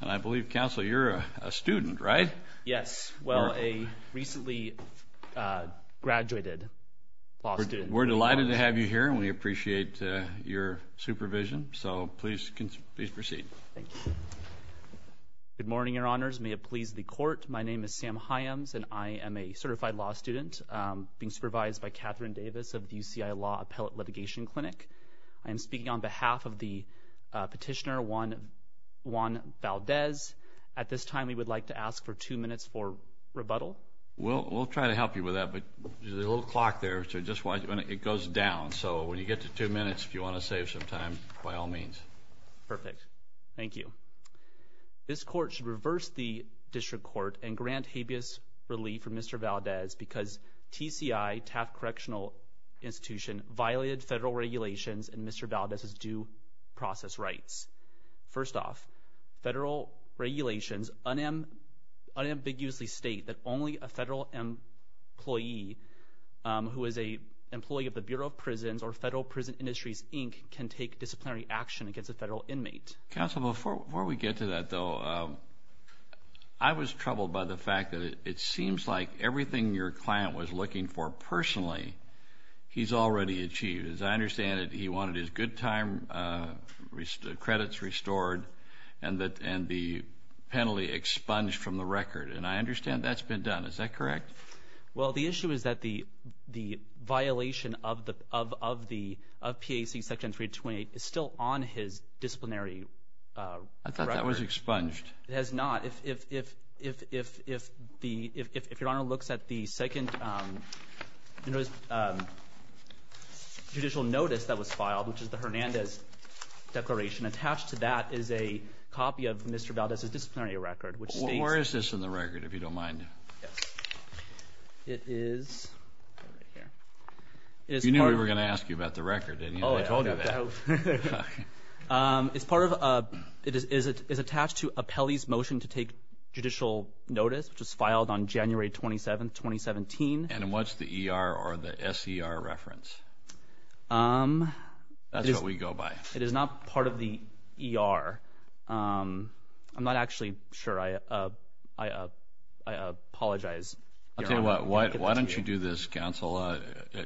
And I believe, Counsel, you're a student, right? Yes. Well, a recently graduated law student. We're delighted to have you here, and we appreciate your supervision, so please proceed. Thank you. Good morning, Your Honors. May it please the Court, my name is Sam Hyams, and I am a certified law student being supervised by Catherine Davis of the UCI Law Appellate Litigation Clinic. I am speaking on behalf of the petitioner, Juan Valdez. At this time, we would like to ask for two minutes for rebuttal. We'll try to help you with that, but there's a little clock there, so just watch when it goes down. So when you get to two minutes, if you want to save some time, by all means. Perfect. Thank you. This Court should reverse the District Court and grant habeas relief for Mr. Valdez because TCI, Taft Correctional Institution, violated federal regulations in Mr. Valdez's due process rights. First off, federal regulations unambiguously state that only a federal employee who is an employee of the Bureau of Prisons or Federal Prison Industries, Inc., can take disciplinary action against a federal inmate. Counsel, before we get to that, though, I was troubled by the fact that it seems like everything your client was looking for personally, he's already achieved. As I understand it, he wanted his good time credits restored and the penalty expunged from the record. And I understand that's been done. Is that correct? Well, the issue is that the violation of PAC Section 328 is still on his disciplinary record. I thought that was expunged. It has not. If your Honor looks at the second judicial notice that was filed, which is the Hernandez Declaration, attached to that is a copy of Mr. Valdez's disciplinary record. Where is this in the record, if you don't mind? Yes. It is right here. You knew we were going to ask you about the record, didn't you? I told you that. It is attached to Apelli's motion to take judicial notice, which was filed on January 27, 2017. And what's the ER or the SER reference? That's what we go by. It is not part of the ER. I'm not actually sure. I apologize. I'll tell you what. Why don't you do this, Counsel?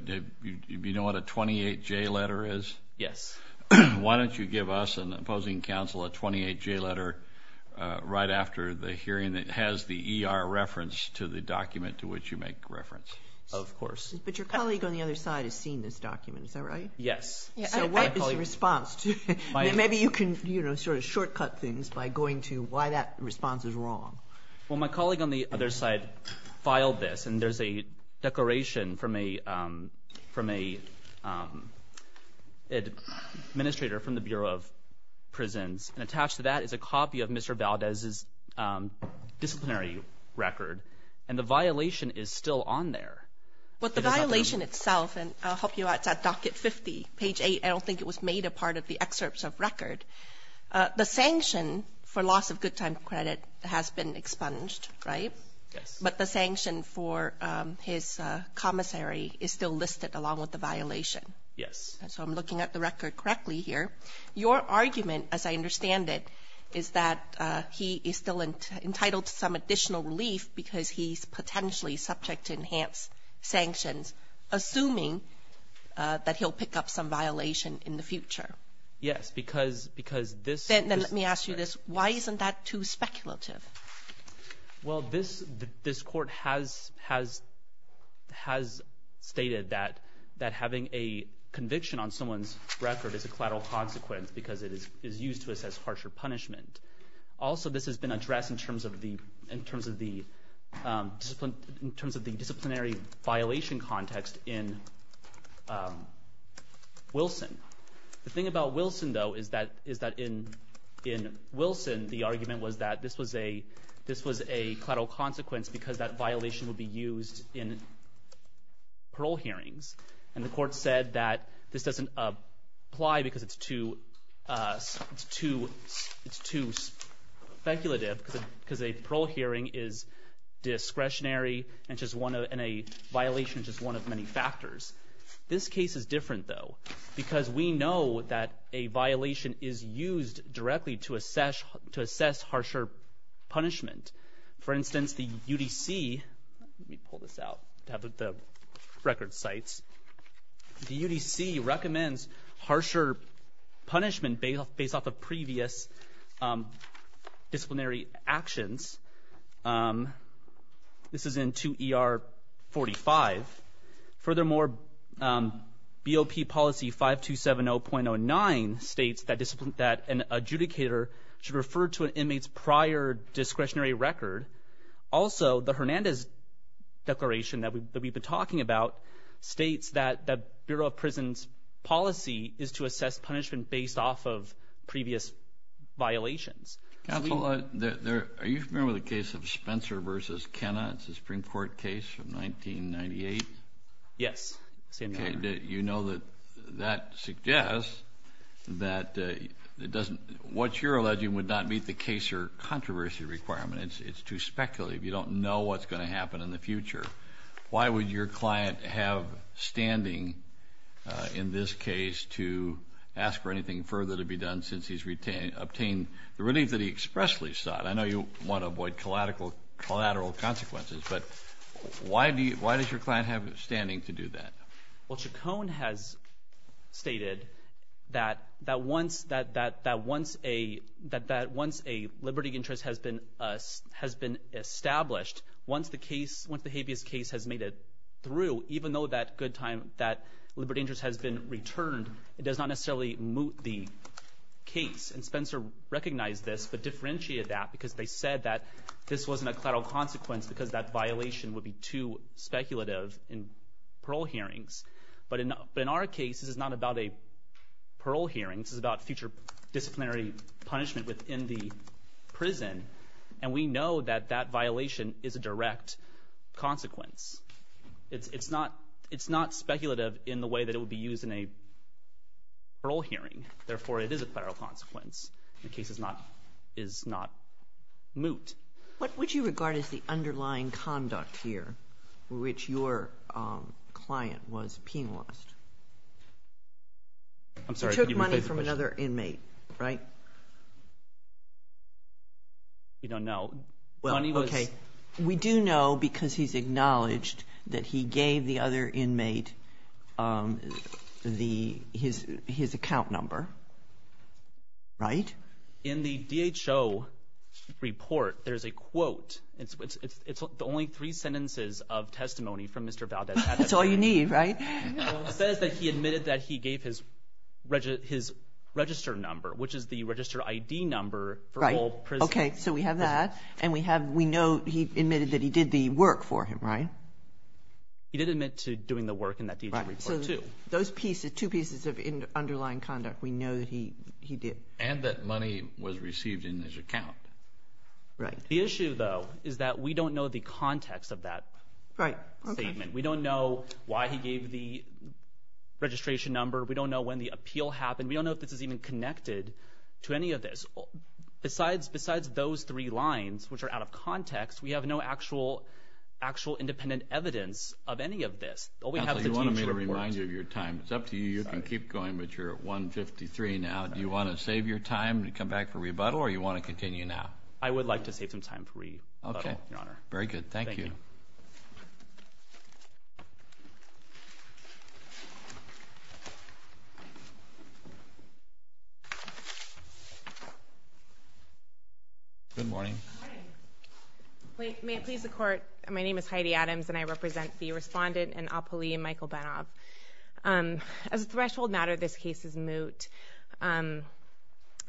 Do you know what a 28J letter is? Yes. Why don't you give us and opposing counsel a 28J letter right after the hearing that has the ER reference to the document to which you make reference? Of course. But your colleague on the other side has seen this document. Is that right? Yes. So what is your response? Maybe you can sort of shortcut things by going to why that response is wrong. Well, my colleague on the other side filed this. And there's a declaration from an administrator from the Bureau of Prisons. And attached to that is a copy of Mr. Valdez's disciplinary record. And the violation is still on there. Well, the violation itself, and I'll help you out. It's at docket 50, page 8. I don't think it was made a part of the excerpts of record. The sanction for loss of good time credit has been expunged, right? Yes. But the sanction for his commissary is still listed along with the violation. Yes. So I'm looking at the record correctly here. Your argument, as I understand it, is that he is still entitled to some additional relief because he's potentially subject to enhanced sanctions, assuming that he'll pick up some violation in the future. Yes, because this— Then let me ask you this. Why isn't that too speculative? Well, this court has stated that having a conviction on someone's record is a collateral consequence because it is used to assess harsher punishment. Also, this has been addressed in terms of the disciplinary violation context in Wilson. The thing about Wilson, though, is that in Wilson, the argument was that this was a collateral consequence because that violation would be used in parole hearings. And the court said that this doesn't apply because it's too speculative because a parole hearing is discretionary and a violation is just one of many factors. This case is different, though, because we know that a violation is used directly to assess harsher punishment. For instance, the UDC—let me pull this out to have the record sites. The UDC recommends harsher punishment based off of previous disciplinary actions. This is in 2 ER 45. Furthermore, BOP policy 5270.09 states that an adjudicator should refer to an inmate's prior discretionary record. Also, the Hernandez Declaration that we've been talking about states that the Bureau of Prisons' policy is to assess punishment based off of previous violations. Counsel, are you familiar with the case of Spencer v. Kenna? It's a Supreme Court case from 1998. Yes. You know that that suggests that what you're alleging would not meet the case or controversy requirement. It's too speculative. You don't know what's going to happen in the future. Why would your client have standing in this case to ask for anything further to be done since he's obtained the relief that he expressly sought? I know you want to avoid collateral consequences, but why does your client have standing to do that? Well, Chacon has stated that once a liberty interest has been established, once the habeas case has made it through, even though that liberty interest has been returned, it does not necessarily moot the case. And Spencer recognized this but differentiated that because they said that this wasn't a collateral consequence because that violation would be too speculative in parole hearings. But in our case, this is not about a parole hearing. This is about future disciplinary punishment within the prison, and we know that that violation is a direct consequence. It's not speculative in the way that it would be used in a parole hearing. Therefore, it is a collateral consequence. The case is not moot. What would you regard as the underlying conduct here for which your client was penalized? I'm sorry. You took money from another inmate, right? You don't know. We do know because he's acknowledged that he gave the other inmate his account number, right? In the DHO report, there's a quote. It's the only three sentences of testimony from Mr. Valdez. That's all you need, right? It says that he admitted that he gave his register number, which is the register ID number for whole prison. Okay, so we have that, and we know he admitted that he did the work for him, right? He did admit to doing the work in that DHO report, too. So those two pieces of underlying conduct, we know that he did. And that money was received in his account. The issue, though, is that we don't know the context of that statement. We don't know why he gave the registration number. We don't know when the appeal happened. We don't know if this is even connected to any of this. Besides those three lines, which are out of context, we have no actual independent evidence of any of this. Counsel, you wanted me to remind you of your time. It's up to you. You can keep going, but you're at 1.53 now. Do you want to save your time to come back for rebuttal, or do you want to continue now? I would like to save some time for rebuttal, Your Honor. Okay, very good. Thank you. Good morning. Good morning. May it please the Court, my name is Heidi Adams, and I represent the respondent and appellee, Michael Benov. As a threshold matter, this case is moot. The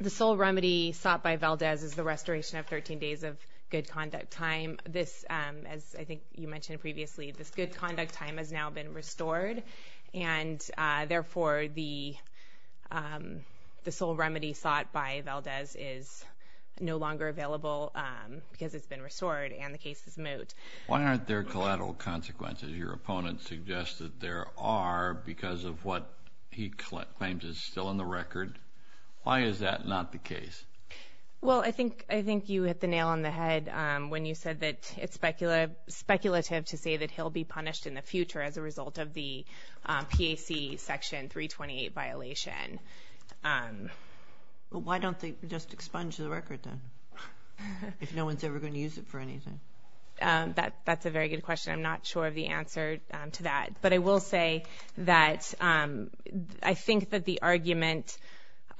sole remedy sought by Valdez is the restoration of 13 days of good conduct time. This, as I think you mentioned previously, this good conduct time has now been restored, and therefore the sole remedy sought by Valdez is no longer available because it's been restored, and the case is moot. Why aren't there collateral consequences? Your opponent suggested there are because of what he claims is still in the record. Why is that not the case? Well, I think you hit the nail on the head when you said that it's speculative to say that he'll be punished in the future as a result of the PAC Section 328 violation. Well, why don't they just expunge the record then if no one's ever going to use it for anything? That's a very good question. I'm not sure of the answer to that. But I will say that I think that the argument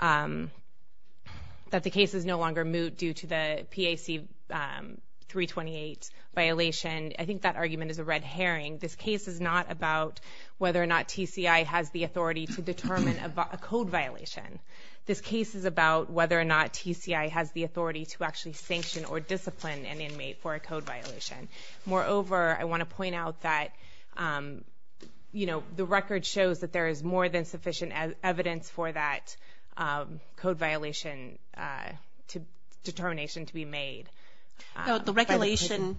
that the case is no longer moot due to the PAC 328 violation, I think that argument is a red herring. This case is not about whether or not TCI has the authority to determine a code violation. This case is about whether or not TCI has the authority to actually sanction or discipline an inmate for a code violation. Moreover, I want to point out that, you know, the record shows that there is more than sufficient evidence for that code violation determination to be made. The regulation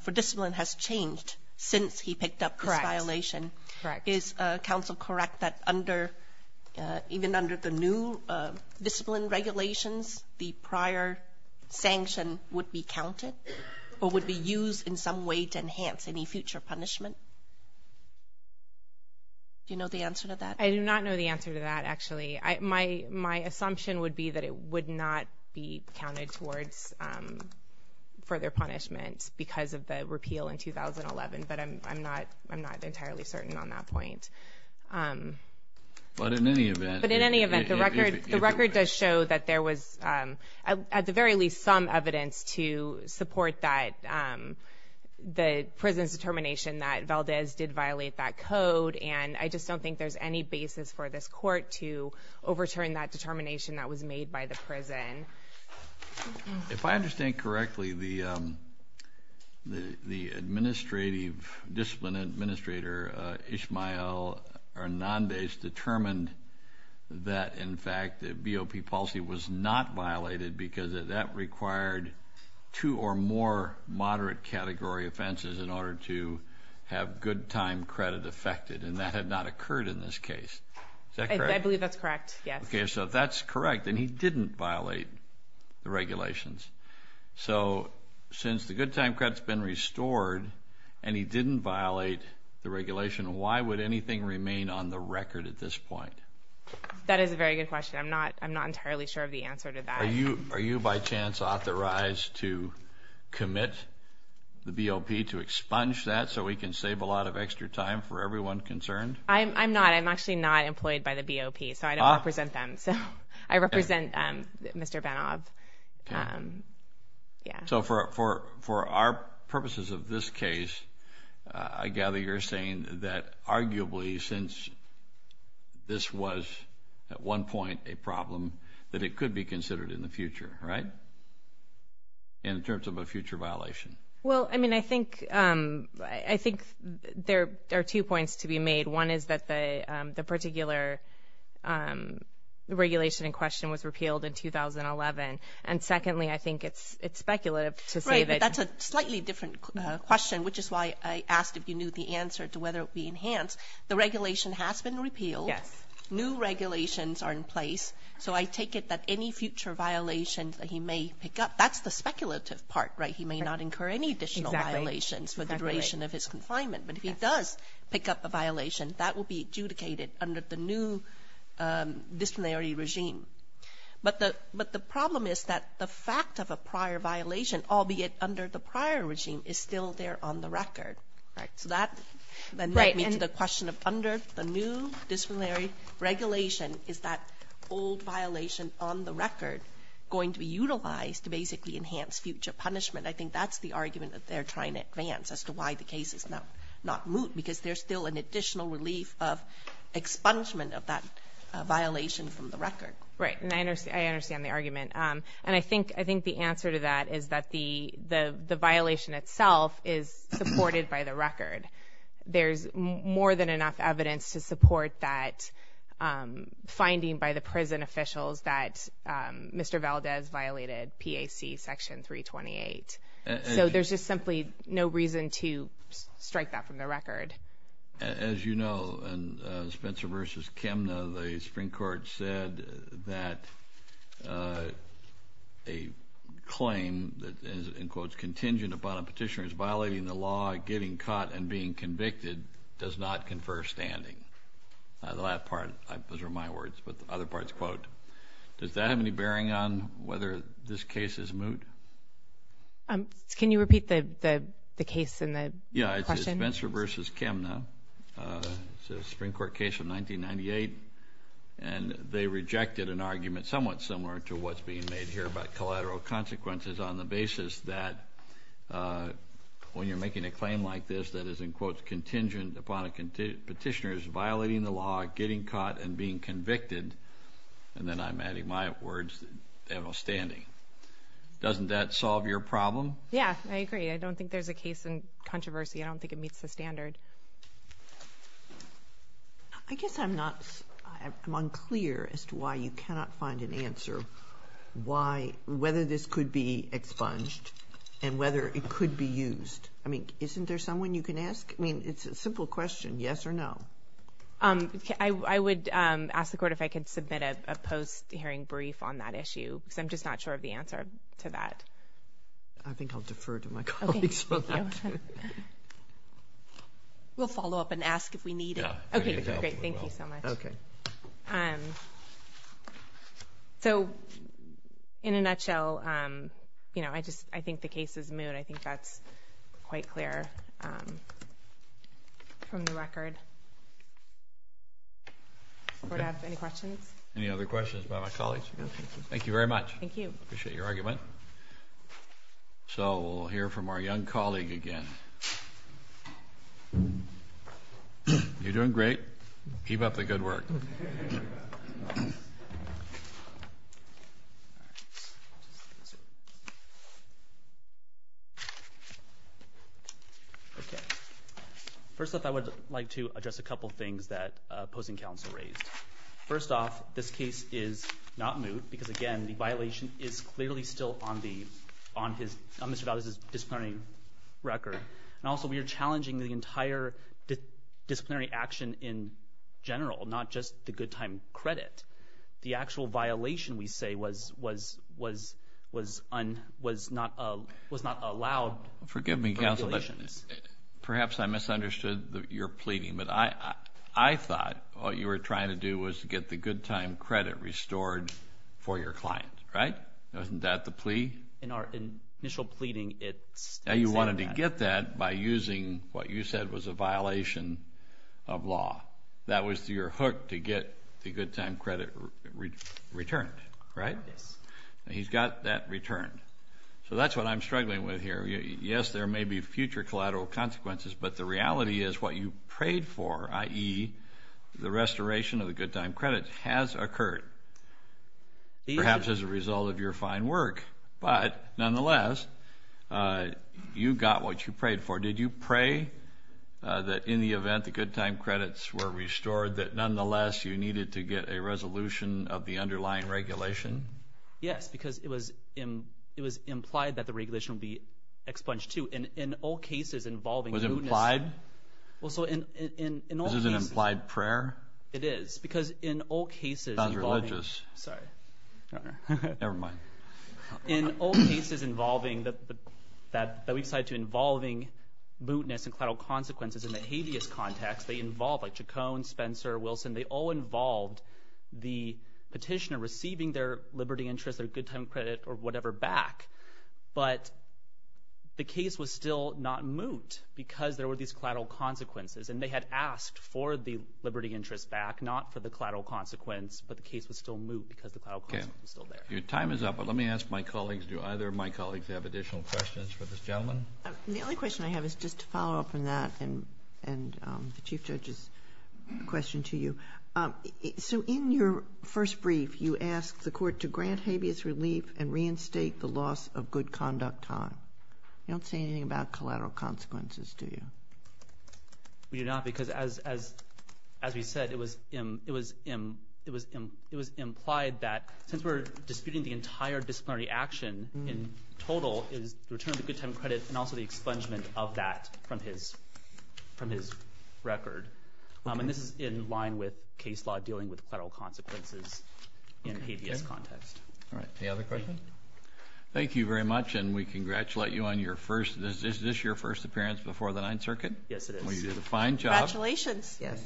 for discipline has changed since he picked up this violation. Correct. Is counsel correct that even under the new discipline regulations, the prior sanction would be counted or would be used in some way to enhance any future punishment? Do you know the answer to that? I do not know the answer to that, actually. My assumption would be that it would not be counted towards further punishment because of the repeal in 2011. But I'm not entirely certain on that point. But in any event. But in any event, the record does show that there was, at the very least, some evidence to support the prison's determination that Valdez did violate that code. And I just don't think there's any basis for this court to overturn that determination that was made by the prison. If I understand correctly, the administrative, discipline administrator, Ismael Hernandez, determined that, in fact, the BOP policy was not violated because that required two or more moderate category offenses in order to have good time credit affected. And that had not occurred in this case. Is that correct? I believe that's correct, yes. Okay, so that's correct. And he didn't violate the regulations. So since the good time credit's been restored and he didn't violate the regulation, why would anything remain on the record at this point? That is a very good question. I'm not entirely sure of the answer to that. Are you, by chance, authorized to commit the BOP to expunge that so we can save a lot of extra time for everyone concerned? I'm not. I'm actually not employed by the BOP, so I don't represent them. I represent Mr. Benov. So for our purposes of this case, I gather you're saying that, arguably, since this was, at one point, a problem, that it could be considered in the future, right, in terms of a future violation? Well, I mean, I think there are two points to be made. One is that the particular regulation in question was repealed in 2011, and secondly, I think it's speculative to say that. Right, but that's a slightly different question, which is why I asked if you knew the answer to whether it would be enhanced. The regulation has been repealed. Yes. New regulations are in place, so I take it that any future violations that he may pick up, that's the speculative part, right? He may not incur any additional violations for the duration of his confinement. Exactly. But if he does pick up a violation, that will be adjudicated under the new disciplinary regime. But the problem is that the fact of a prior violation, albeit under the prior regime, is still there on the record. Right. So that leads me to the question of under the new disciplinary regulation, is that old violation on the record going to be utilized to basically enhance future punishment? I think that's the argument that they're trying to advance as to why the case is not moot, because there's still an additional relief of expungement of that violation from the record. Right, and I understand the argument. And I think the answer to that is that the violation itself is supported by the record. There's more than enough evidence to support that finding by the prison officials that Mr. Valdez violated PAC Section 328. So there's just simply no reason to strike that from the record. As you know, in Spencer v. Chemna, the Supreme Court said that a claim that is, in quotes, contingent upon a petitioner's violating the law, getting caught, and being convicted does not confer standing. The last part, those are my words, but the other part is a quote. Does that have any bearing on whether this case is moot? Can you repeat the case and the question? This is Spencer v. Chemna. It's a Supreme Court case of 1998, and they rejected an argument somewhat similar to what's being made here about collateral consequences on the basis that when you're making a claim like this that is, in quotes, contingent upon a petitioner's violating the law, getting caught, and being convicted, and then I'm adding my words, they have no standing. Doesn't that solve your problem? Yeah, I agree. I don't think there's a case in controversy. I don't think it meets the standard. I guess I'm unclear as to why you cannot find an answer whether this could be expunged and whether it could be used. I mean, isn't there someone you can ask? I mean, it's a simple question, yes or no. I would ask the Court if I could submit a post-hearing brief on that issue because I'm just not sure of the answer to that. I think I'll defer to my colleagues for that. We'll follow up and ask if we need it. Okay, great. Thank you so much. Okay. So in a nutshell, you know, I think the case is moot. I think that's quite clear from the record. Court, any questions? Any other questions about my colleagues? No, thank you. Thank you very much. Thank you. Appreciate your argument. So we'll hear from our young colleague again. You're doing great. Keep up the good work. First off, I would like to address a couple things that opposing counsel raised. First off, this case is not moot because, again, the violation is clearly still on Mr. Valdez's disciplinary record. And also we are challenging the entire disciplinary action in general, not just the good time credit. The actual violation, we say, was not allowed. Forgive me, counsel, but perhaps I misunderstood your pleading. But I thought what you were trying to do was get the good time credit restored for your client, right? Isn't that the plea? In our initial pleading, it states that. And you wanted to get that by using what you said was a violation of law. That was your hook to get the good time credit returned, right? Yes. And he's got that returned. So that's what I'm struggling with here. Yes, there may be future collateral consequences, but the reality is what you prayed for, i.e., the restoration of the good time credit has occurred, perhaps as a result of your fine work. But nonetheless, you got what you prayed for. Did you pray that in the event the good time credits were restored, that nonetheless you needed to get a resolution of the underlying regulation? Yes, because it was implied that the regulation would be expunged too. In all cases involving mootness. Was it implied? Well, so in all cases. This is an implied prayer? It is. Because in all cases involving. That's not religious. Sorry. Never mind. In all cases involving mootness and collateral consequences in the habeas context, they involve like Chacon, Spencer, Wilson, they all involved the petitioner receiving their liberty interest, their good time credit, or whatever back. But the case was still not moot because there were these collateral consequences, and they had asked for the liberty interest back, not for the collateral consequence, but the case was still moot because the collateral consequence was still there. Okay. Your time is up, but let me ask my colleagues, do either of my colleagues have additional questions for this gentleman? The only question I have is just to follow up on that and the Chief Judge's question to you. So in your first brief, you asked the court to grant habeas relief and reinstate the loss of good conduct time. You don't say anything about collateral consequences, do you? We do not because, as we said, it was implied that since we're disputing the entire disciplinary action in total, it was the return of the good time credit and also the expungement of that from his record. And this is in line with case law dealing with collateral consequences in a habeas context. All right. Any other questions? Thank you very much, and we congratulate you on your first. Is this your first appearance before the Ninth Circuit? Yes, it is. Well, you did a fine job. Thank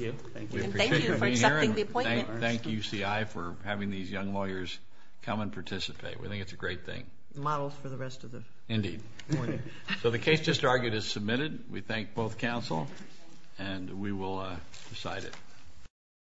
you. Thank you for accepting the appointment. We appreciate you being here, and thank UCI for having these young lawyers come and participate. We think it's a great thing. Models for the rest of the morning. Indeed. So the case just argued is submitted. We thank both counsel, and we will decide it.